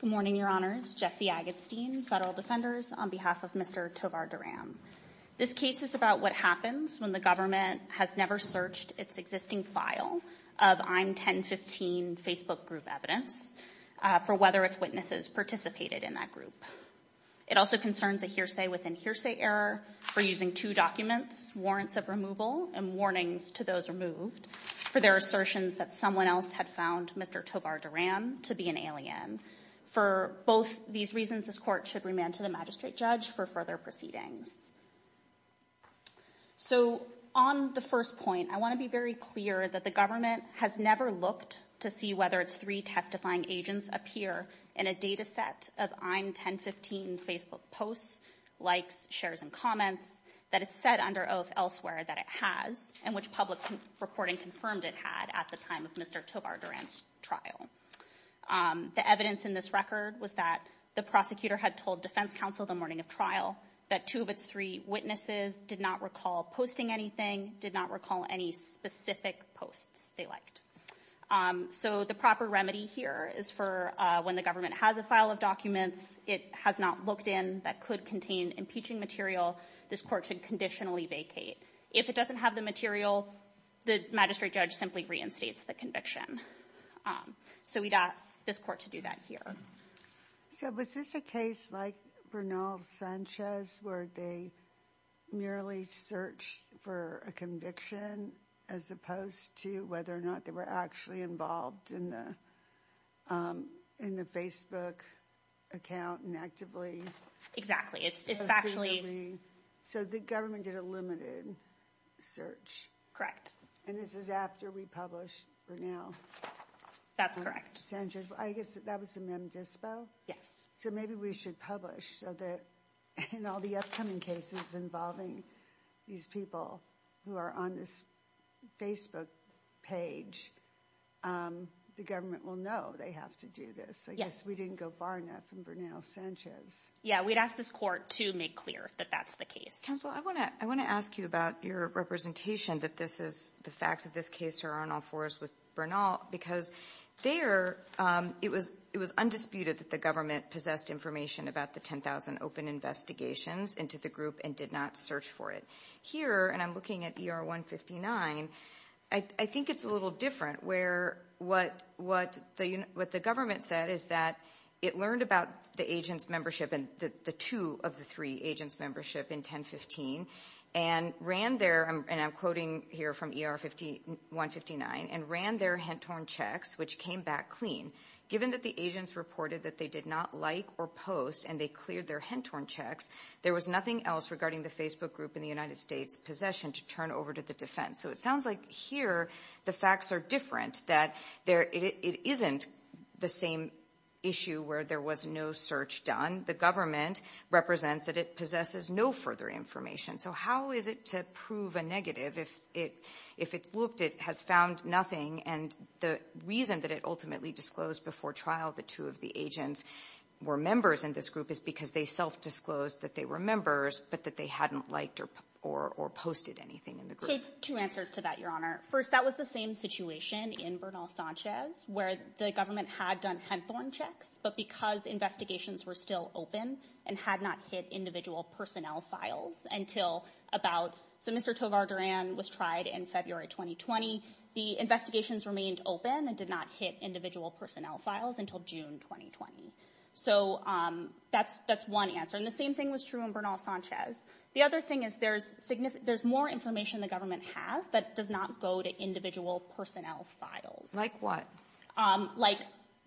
Good morning, Your Honors. Jesse Agatstein, Federal Defenders, on behalf of Mr. Tovar-Duran. This case is about what happens when the government has never searched its existing file of I'm 1015 Facebook group evidence for whether its witnesses participated in that group. It also concerns a hearsay within hearsay error for using two documents, warrants of removal and warnings to those removed for their assertions that someone else had found Mr. Tovar-Duran to be an alien. For both these reasons, this court should remand to the magistrate judge for further proceedings. So on the first point, I want to be very clear that the government has never looked to see whether its three testifying agents appear in a data set of I'm 1015 Facebook posts, likes, shares and comments that it said under oath elsewhere that it has and which public reporting confirmed it had at the time of Mr. Tovar-Duran's trial. The evidence in this record was that the prosecutor had told defense counsel the morning of trial that two of its three witnesses did not recall posting anything, did not recall any specific posts they liked. So the proper remedy here is for when the government has a file of documents it has not looked in that could contain impeaching material, this court should conditionally vacate. If it doesn't have the material, the magistrate judge simply reinstates the conviction. So we'd ask this court to do that here. So was this a case like Bernal-Sanchez where they merely searched for a conviction as opposed to whether or not they were actually involved in the Facebook account and actively? Exactly. So the government did a limited search and this is after we published Bernal-Sanchez. I guess that was a mem dispo. So maybe we should publish so that in all the upcoming cases involving these people who are on this Facebook page, the government will know they have to do this. I guess we didn't go far enough in Bernal-Sanchez. Yeah, we'd ask this court to make clear that that's the case. Counsel, I want to ask you about your representation that this is the facts of this case are on all fours with Bernal because there it was undisputed that the government possessed information about the 10,000 open investigations into the group and did not search for it. Here, and I'm looking at ER-159, I think it's a little different where what the government said is that it learned about the agents membership and the two of the three agents membership in 10-15 and ran their, and I'm quoting here from ER-159, and ran their Hentorn checks which came back clean. Given that the agents reported that they did not like or post and they cleared their Hentorn checks, there was nothing else regarding the Facebook group in the United States possession to turn over to the defense. So it sounds like here the facts are different that it isn't the same issue where there was no search done. The government represents that it possesses no further information. So how is it to prove a negative if it looked, it has found nothing, and the reason that it ultimately disclosed before trial the two of the agents were members in this group is because they self-disclosed that they were members but that they hadn't liked or posted anything in the group. So two answers to that, Your Honor. First, that was the same situation in Bernal-Sanchez where the government had done Henthorn checks, but because investigations were still open and had not hit individual personnel files until about, so Mr. Tovar Duran was tried in February 2020. The investigations remained open and did not hit individual personnel files until June 2020. So that's one answer, and the same thing was true in Bernal-Sanchez. The other thing is there's more information the government has that does not go to individual personnel files. Like what? Like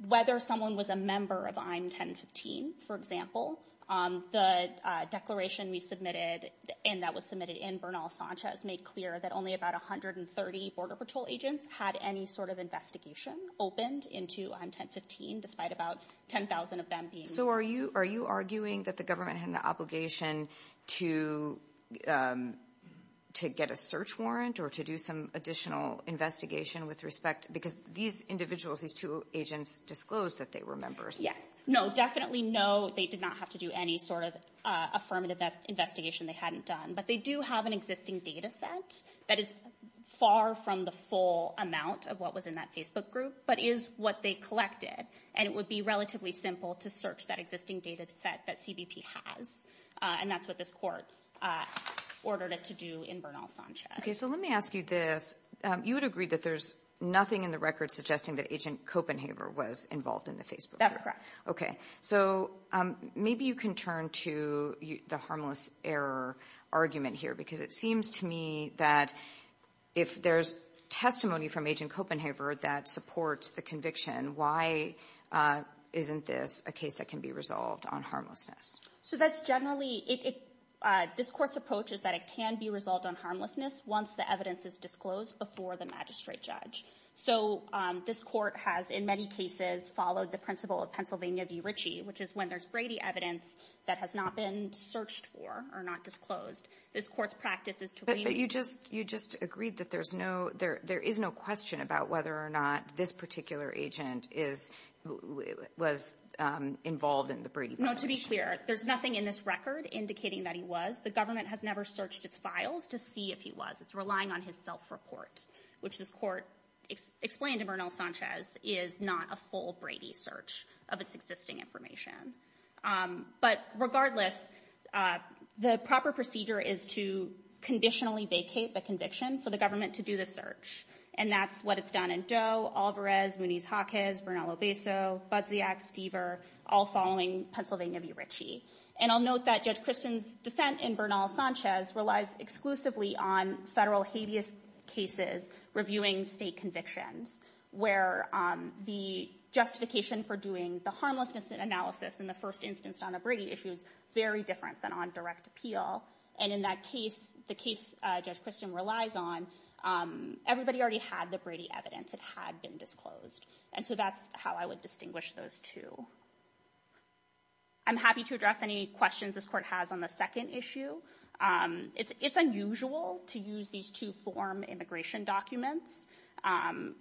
whether someone was a member of I'm 1015, for example. The declaration we submitted and that was submitted in Bernal-Sanchez made clear that only about 130 Border Patrol agents had any sort of investigation opened into I'm 1015 despite about 10,000 of them being. Are you arguing that the government had an obligation to get a search warrant or to do some additional investigation with respect, because these individuals, these two agents disclosed that they were members? Yes. No, definitely no. They did not have to do any sort of affirmative investigation they hadn't done, but they do have an existing data set that is far from the full amount of what was in that Facebook group, but is what they collected, and it would be relatively simple to search that existing data set that CBP has, and that's what this court ordered it to do in Bernal-Sanchez. Okay, so let me ask you this. You would agree that there's nothing in the record suggesting that Agent Copenhaver was involved in the Facebook group? That's correct. Okay. So maybe you can turn to the harmless error argument here, because it seems to me that if there's testimony from Agent Copenhaver that supports the conviction, why isn't this a case that can be resolved on harmlessness? So that's generally, this court's approach is that it can be resolved on harmlessness once the evidence is disclosed before the magistrate judge. So this court has in many cases followed the principle of Pennsylvania v. Ritchie, which is when there's Brady evidence that has not been searched for or not disclosed, this court's practice is to But you just agreed that there is no question about whether or not this particular agent was involved in the Brady violation. No. To be clear, there's nothing in this record indicating that he was. The government has never searched its files to see if he was. It's relying on his self-report, which this court explained in Bernal-Sanchez is not a full Brady search of its existing information. But regardless, the proper procedure is to conditionally vacate the conviction for the government to do the search. And that's what it's done in Doe, Alvarez, Mooney's-Hawkins, Bernal-Lobezo, Budziak, Stever, all following Pennsylvania v. Ritchie. And I'll note that Judge Christen's dissent in Bernal-Sanchez relies exclusively on federal habeas cases reviewing state convictions, where the justification for doing the harmlessness analysis in the first instance on a Brady issue is very different than on direct appeal. And in that case, the case Judge Christen relies on, everybody already had the Brady evidence. It had been disclosed. And so that's how I would distinguish those two. I'm happy to address any questions this court has on the second issue. It's unusual to use these two-form immigration documents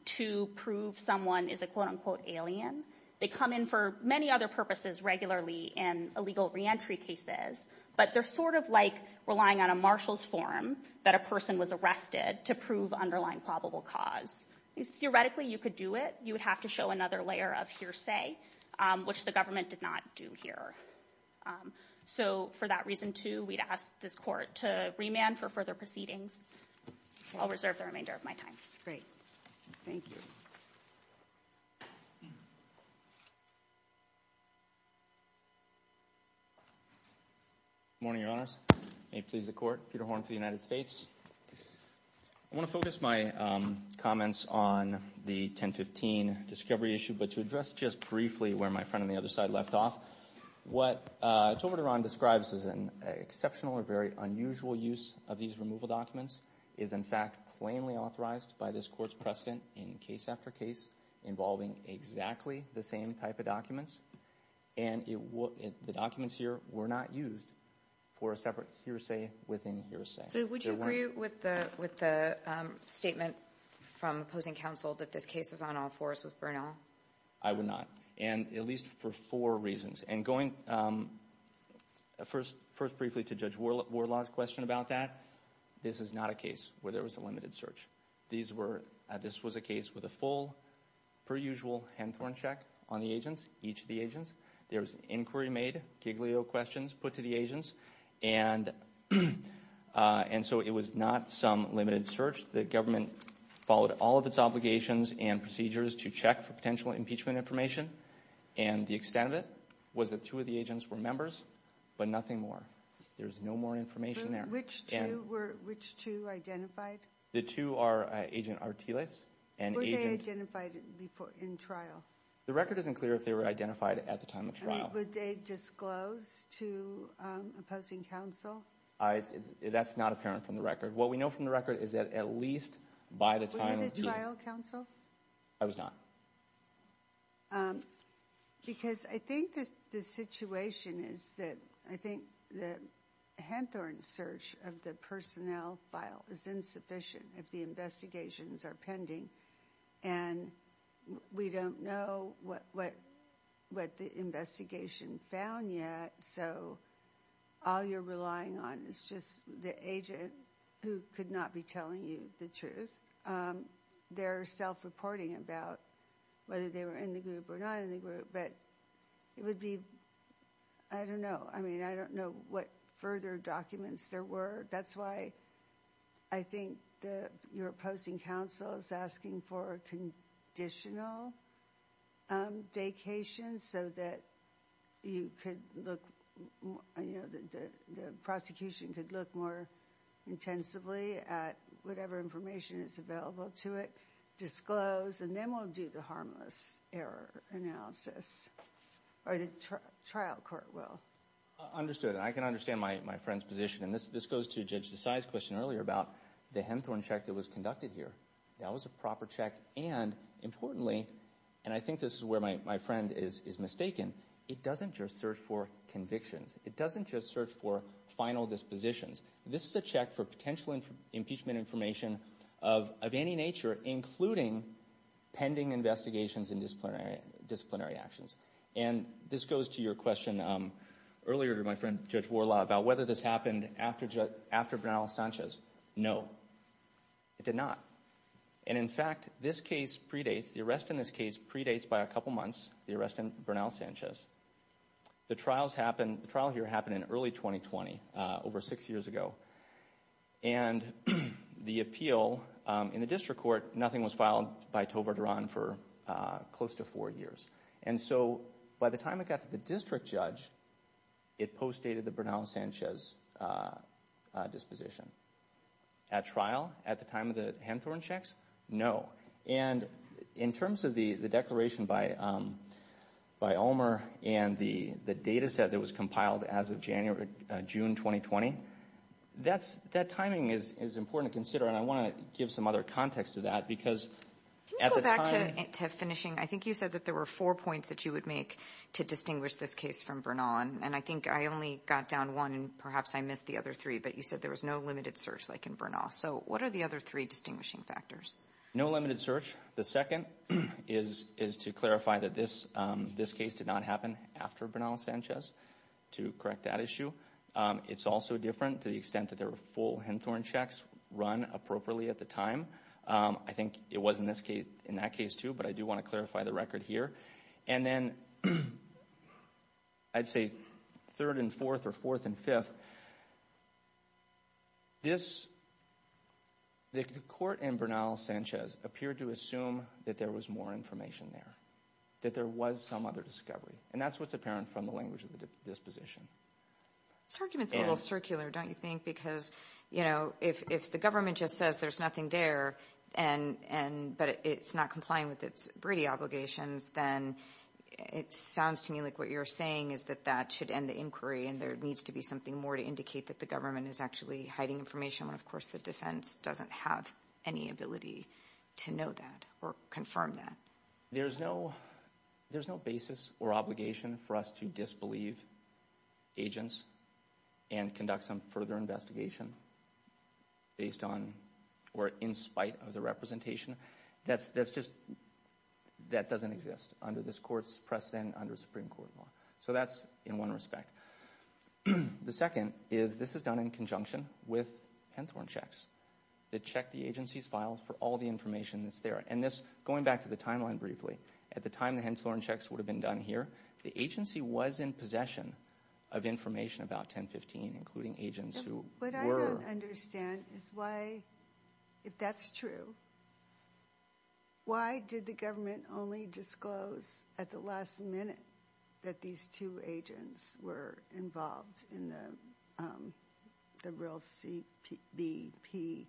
to prove someone is a quote-unquote alien. They come in for many other purposes regularly in illegal reentry cases, but they're sort of like relying on a marshal's form that a person was arrested to prove underlying probable cause. Theoretically, you could do it. You would have to show another layer of hearsay, which the government did not do here. So for that reason, too, we'd ask this court to remand for further proceedings. I'll reserve the remainder of my time. Great. Thank you. Good morning, Your Honors. May it please the Court. Peter Horn for the United States. I want to focus my comments on the 1015 discovery issue, but to address just briefly where my friend on the other side left off, what Tovar Duran describes as an exceptional or unusual use of these removal documents is, in fact, plainly authorized by this Court's precedent in case after case involving exactly the same type of documents. And the documents here were not used for a separate hearsay within hearsay. So would you agree with the statement from opposing counsel that this case is on all fours with Bernal? I would not. And at least for four reasons. And going first briefly to Judge Warlaw's question about that, this is not a case where there was a limited search. This was a case with a full, per usual, Hanthorne check on the agents, each of the agents. There was inquiry made, Giglio questions put to the agents. And so it was not some limited search. The government followed all of its obligations and procedures to check for potential impeachment information. And the extent of it was that two of the agents were members, but nothing more. There's no more information there. Which two were, which two identified? The two are Agent Artiles and Agent- Were they identified before, in trial? The record isn't clear if they were identified at the time of trial. Would they disclose to opposing counsel? That's not apparent from the record. What we know from the record is that at least by the time- Were you the trial counsel? I was not. Because I think that the situation is that, I think the Hanthorne search of the personnel file is insufficient if the investigations are pending. And we don't know what the investigation found yet. So all you're relying on is just the agent who could not be telling you the truth. They're self-reporting about whether they were in the group or not in the group. But it would be, I don't know. I mean, I don't know what further documents there were. That's why I think that you're opposing counsel is asking for conditional vacations so that you could look, you know, the prosecution could look more intensively at whatever information is available to it, disclose, and then we'll do the harmless error analysis. Or the trial court will. Understood. I can understand my friend's position. And this goes to Judge Desai's question earlier about the Hanthorne check that was conducted here. That was a proper check. And importantly, and I think this is where my friend is mistaken, it doesn't just search for convictions. It doesn't just search for final dispositions. This is a check for potential impeachment information of any nature, including pending investigations and disciplinary actions. And this goes to your question earlier to my friend Judge Borla about whether this happened after Bernal-Sanchez. No, it did not. And in fact, this case predates, the arrest in this case predates by a couple months, the arrest in Bernal-Sanchez. The trial here happened in early 2020, over six years ago. And the appeal in the district court, nothing was filed by Tovar Duran for close to four years. And so, by the time it got to the district judge, it postdated the Bernal-Sanchez disposition. At trial, at the time of the Hanthorne checks, no. And in terms of the declaration by Ulmer and the data set that was compiled as of June 2020, that timing is important to consider. And I want to give some other context to that because at the time, I think you said that there were four points that you would make to distinguish this case from Bernal. And I think I only got down one and perhaps I missed the other three, but you said there was no limited search like in Bernal. So what are the other three distinguishing factors? No limited search. The second is to clarify that this case did not happen after Bernal-Sanchez to correct that issue. It's also different to the extent that there were full Hanthorne checks run appropriately at the time. I think it was in that case, too, but I do want to clarify the record here. And then I'd say third and fourth or fourth and fifth, the court in Bernal-Sanchez appeared to assume that there was more information there, that there was some other discovery. And that's what's apparent from the language of the disposition. This argument's a little circular, don't you think? Because if the government just says there's nothing there but it's not complying with its Brady obligations, then it sounds to me like what you're saying is that that should end the inquiry and there needs to be something more to indicate that the government is actually hiding information when, of course, the defense doesn't have any ability to know that or confirm that. There's no basis or obligation for us to disbelieve agents and conduct some further investigation based on or in spite of the representation. That's just, that doesn't exist under this court's precedent under Supreme Court law. So that's in one respect. The second is this is done in conjunction with Hanthorne checks that check the agency's files for all the information that's there. And this, going back to the timeline briefly, at the time the Hanthorne checks would have been done here, the agency was in possession of information about 1015, including agents who were. What I don't understand is why, if that's true, why did the government only disclose at the last minute that these two agents were involved in the real CBP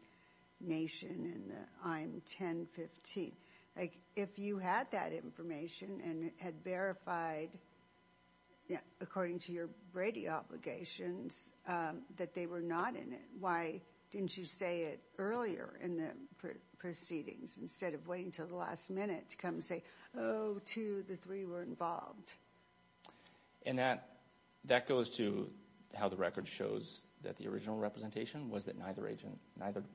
nation and I'm 1015? Like, if you had that information and had verified, according to your Brady obligations, that they were not in it, why didn't you say it earlier in the proceedings instead of waiting till the last minute to come and say, oh, two, the three were involved? And that, that goes to how the record shows that the original representation was that neither agent,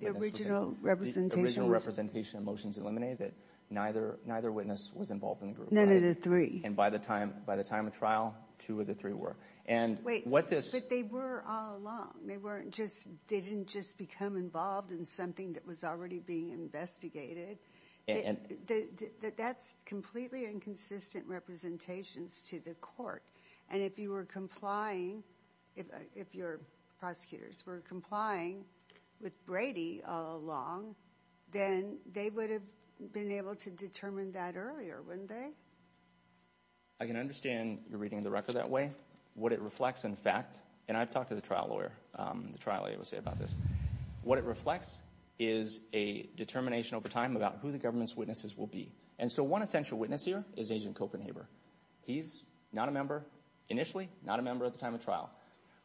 the original representation of motions eliminated, neither witness was involved in the group. None of the three. And by the time, by the time of trial, two of the three were. And what this. But they were all along. They weren't just, they didn't just become involved in something that was already being investigated. That's completely inconsistent representations to the court. And if you were complying, if your prosecutors were complying with Brady all along, then they would have been able to determine that earlier, wouldn't they? I can understand you're reading the record that way. What it reflects, in fact, and I've talked to the trial lawyer, the trial lawyer will say about this. What it reflects is a determination over time about who the government's witnesses will be. And so one essential witness here is Agent Copenhaver. He's not a member initially, not a member at the time of trial.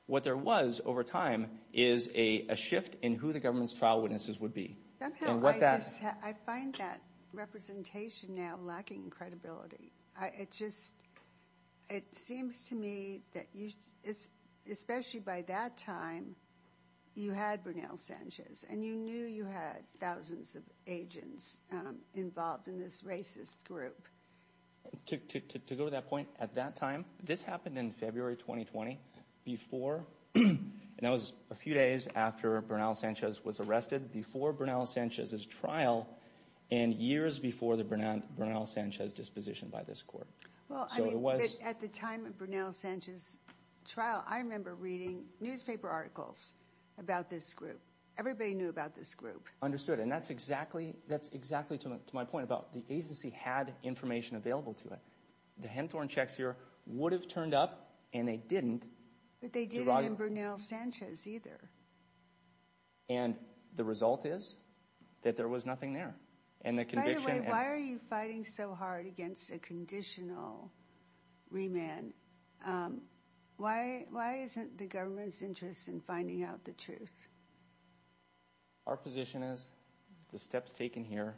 What there was over time is a shift in who the government's trial witnesses would be. And what that. I find that representation now lacking credibility. It just, it seems to me that you, especially by that time, you had Bernal Sanchez and you knew you had thousands of agents involved in this racist group. To go to that point, at that time, this happened in February 2020 before, and that was a few days after Bernal Sanchez was arrested, before Bernal Sanchez's trial and years before the Bernal Sanchez disposition by this court. Well, I mean, at the time of Bernal Sanchez's trial, I remember reading newspaper articles about this group. Everybody knew about this group. Understood. And that's exactly, that's exactly to my point about the agency had information available to it. The Henthorne checks here would have turned up and they didn't. But they didn't in Bernal Sanchez either. And the result is that there was nothing there. And the conviction. Why are you fighting so hard against a conditional remand? Why isn't the government's interest in finding out the truth? Our position is the steps taken here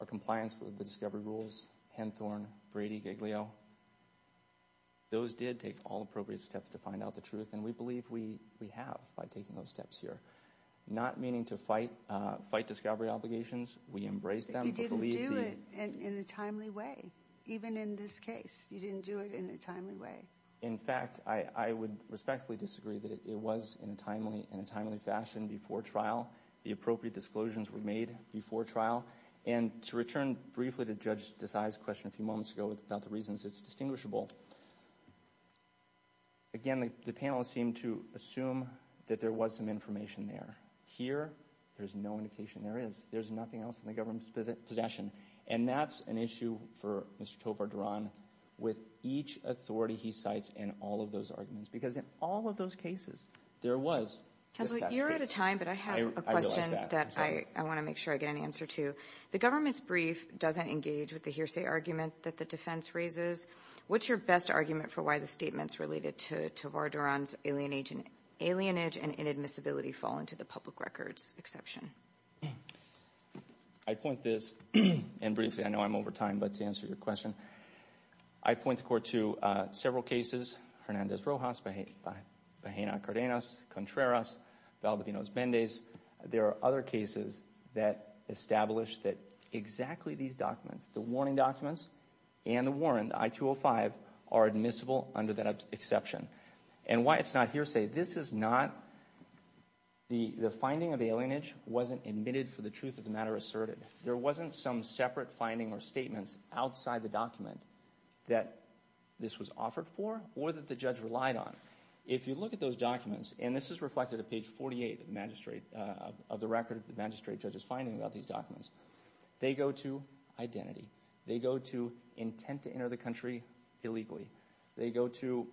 are compliance with the discovery rules, Henthorne, Brady, Giglio. Those did take all appropriate steps to find out the truth. And we believe we we have by taking those steps here, not meaning to fight, fight discovery obligations. We embrace them. You didn't do it in a timely way. Even in this case, you didn't do it in a timely way. In fact, I would respectfully disagree that it was in a timely in a timely fashion before trial. The appropriate disclosures were made before trial. And to return briefly to Judge Desai's question a few moments ago about the reasons, it's distinguishable. Again, the panelists seem to assume that there was some information there. Here, there's no indication there is. There's nothing else in the government's possession. And that's an issue for Mr. Tovar-Duran with each authority he cites in all of those arguments, because in all of those cases, there was. You're out of time, but I have a question that I want to make sure I get an answer to. The government's brief doesn't engage with the hearsay argument that the defense raises. What's your best argument for why the statements related to Tovar-Duran's alienation, alienage and inadmissibility fall into the public records exception? I'd point this, and briefly, I know I'm over time, but to answer your question, I point the court to several cases, Hernandez-Rojas, Bahena-Cardenas, Contreras, Valdivinos-Mendez. There are other cases that establish that exactly these documents, the warning documents and the warrant, I-205, are admissible under that exception. And why it's not hearsay. This is not, the finding of alienage wasn't admitted for the truth of the matter asserted. There wasn't some separate finding or statements outside the document that this was offered for or that the judge relied on. If you look at those documents, and this is reflected at page 48 of the magistrate, of the record the magistrate judge is finding about these documents, they go to identity. They go to intent to enter the country illegally. They go to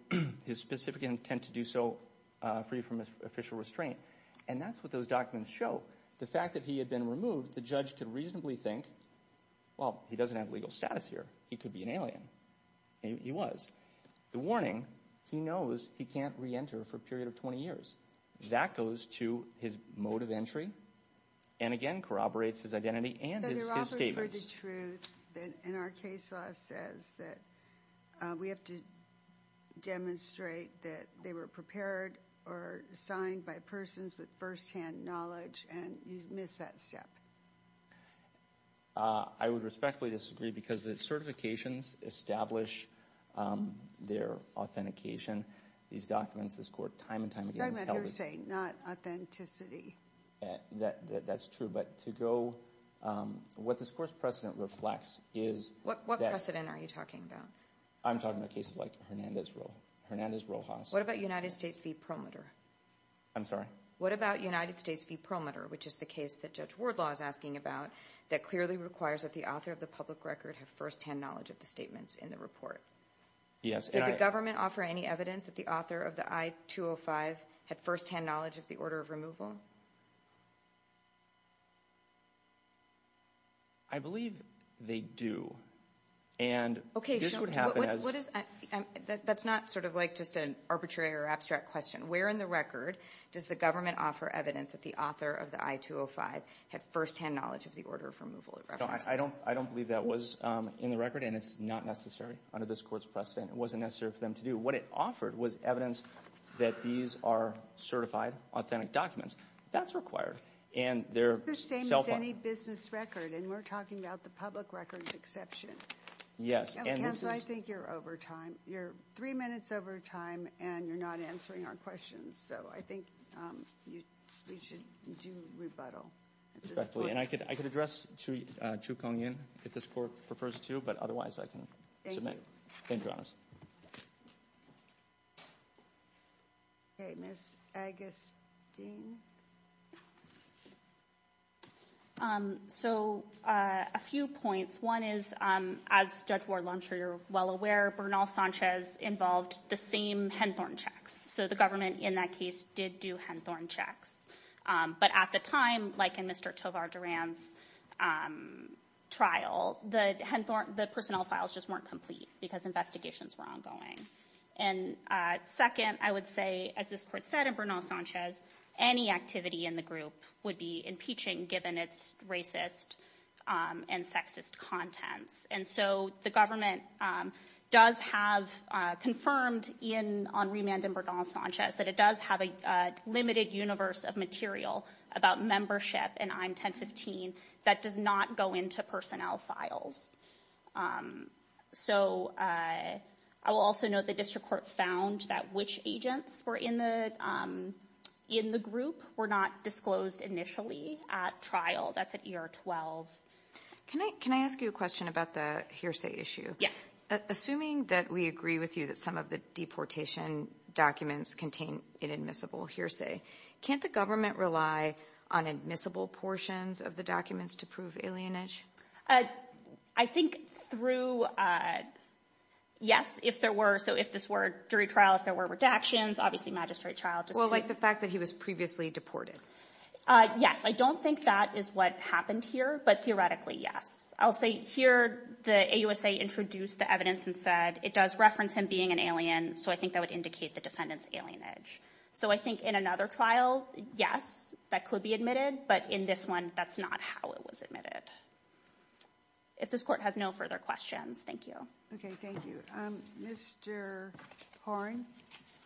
his specific intent to do so free from official restraint. And that's what those documents show. The fact that he had been removed, the judge could reasonably think, well, he doesn't have legal status here. He could be an alien. He was. The warning, he knows he can't re-enter for a period of 20 years. That goes to his mode of entry, and again, corroborates his identity and his statements. For the truth, and our case law says that we have to demonstrate that they were prepared or signed by persons with first-hand knowledge, and you missed that step. I would respectfully disagree because the certifications establish their authentication. These documents, this court time and time again has held it. They're hearsay, not authenticity. That's true. But to go, what this court's precedent reflects is that. What precedent are you talking about? I'm talking about cases like Hernandez-Rojas. What about United States v. Perlmutter? I'm sorry? What about United States v. Perlmutter, which is the case that Judge Wardlaw is asking about that clearly requires that the author of the public record have first-hand knowledge of the statements in the report? Yes. Did the government offer any evidence that the author of the I-205 had first-hand knowledge of the order of removal? I believe they do. And this would happen as. Okay, that's not sort of like just an arbitrary or abstract question. Where in the record does the government offer evidence that the author of the I-205 had first-hand knowledge of the order of removal? No, I don't believe that was in the record, and it's not necessary under this court's precedent. It wasn't necessary for them to do. What it offered was evidence that these are certified, authentic documents. That's required. It's the same as any business record, and we're talking about the public record's exception. Yes, and this is. Counsel, I think you're over time. You're three minutes over time, and you're not answering our questions. So I think we should do rebuttal at this point. Respectfully. And I could address Chu Cong-Yen if this court prefers to, but otherwise I can submit. Okay, Ms. Agustin. Okay, so a few points. One is, as Judge Ward-Lung, I'm sure you're well aware, Bernal-Sanchez involved the same Henthorne checks. So the government in that case did do Henthorne checks. But at the time, like in Mr. Tovar-Duran's trial, the personnel files just weren't complete because investigations were ongoing. And second, I would say, as this court said in Bernal-Sanchez, any activity in the group would be impeaching given its racist and sexist contents. And so the government does have confirmed on remand in Bernal-Sanchez that it does have a limited universe of material about membership in I-1015 that does not go into personnel files. So I will also note the district court found that which agents were in the group were not initially at trial. That's at ER-12. Can I ask you a question about the hearsay issue? Yes. Assuming that we agree with you that some of the deportation documents contain inadmissible hearsay, can't the government rely on admissible portions of the documents to prove alienage? I think through, yes, if there were. So if this were jury trial, if there were redactions, obviously magistrate trial. Well, like the fact that he was previously deported. Yes, I don't think that is what happened here, but theoretically, yes. I'll say here the AUSA introduced the evidence and said it does reference him being an alien, so I think that would indicate the defendant's alienage. So I think in another trial, yes, that could be admitted. But in this one, that's not how it was admitted. If this court has no further questions, thank you. Okay, thank you. Mr. Horne,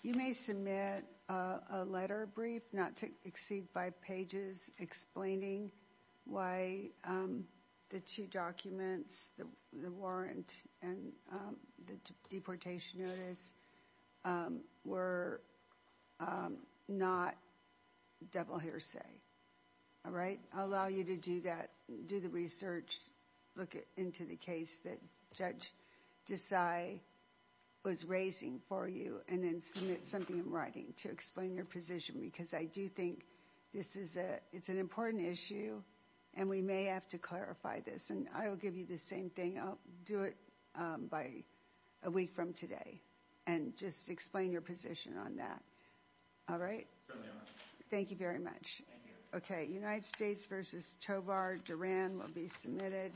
you may submit a letter brief, not to exceed five pages, explaining why the two documents, the warrant and the deportation notice, were not double hearsay, all right? I'll allow you to do that, do the research, look into the case that Judge Desai was raising for you and then submit something in writing to explain your position because I do think this is a, it's an important issue and we may have to clarify this. And I will give you the same thing. I'll do it by a week from today and just explain your position on that, all right? Thank you very much. Okay, United States versus Chobar, Duran will be submitted.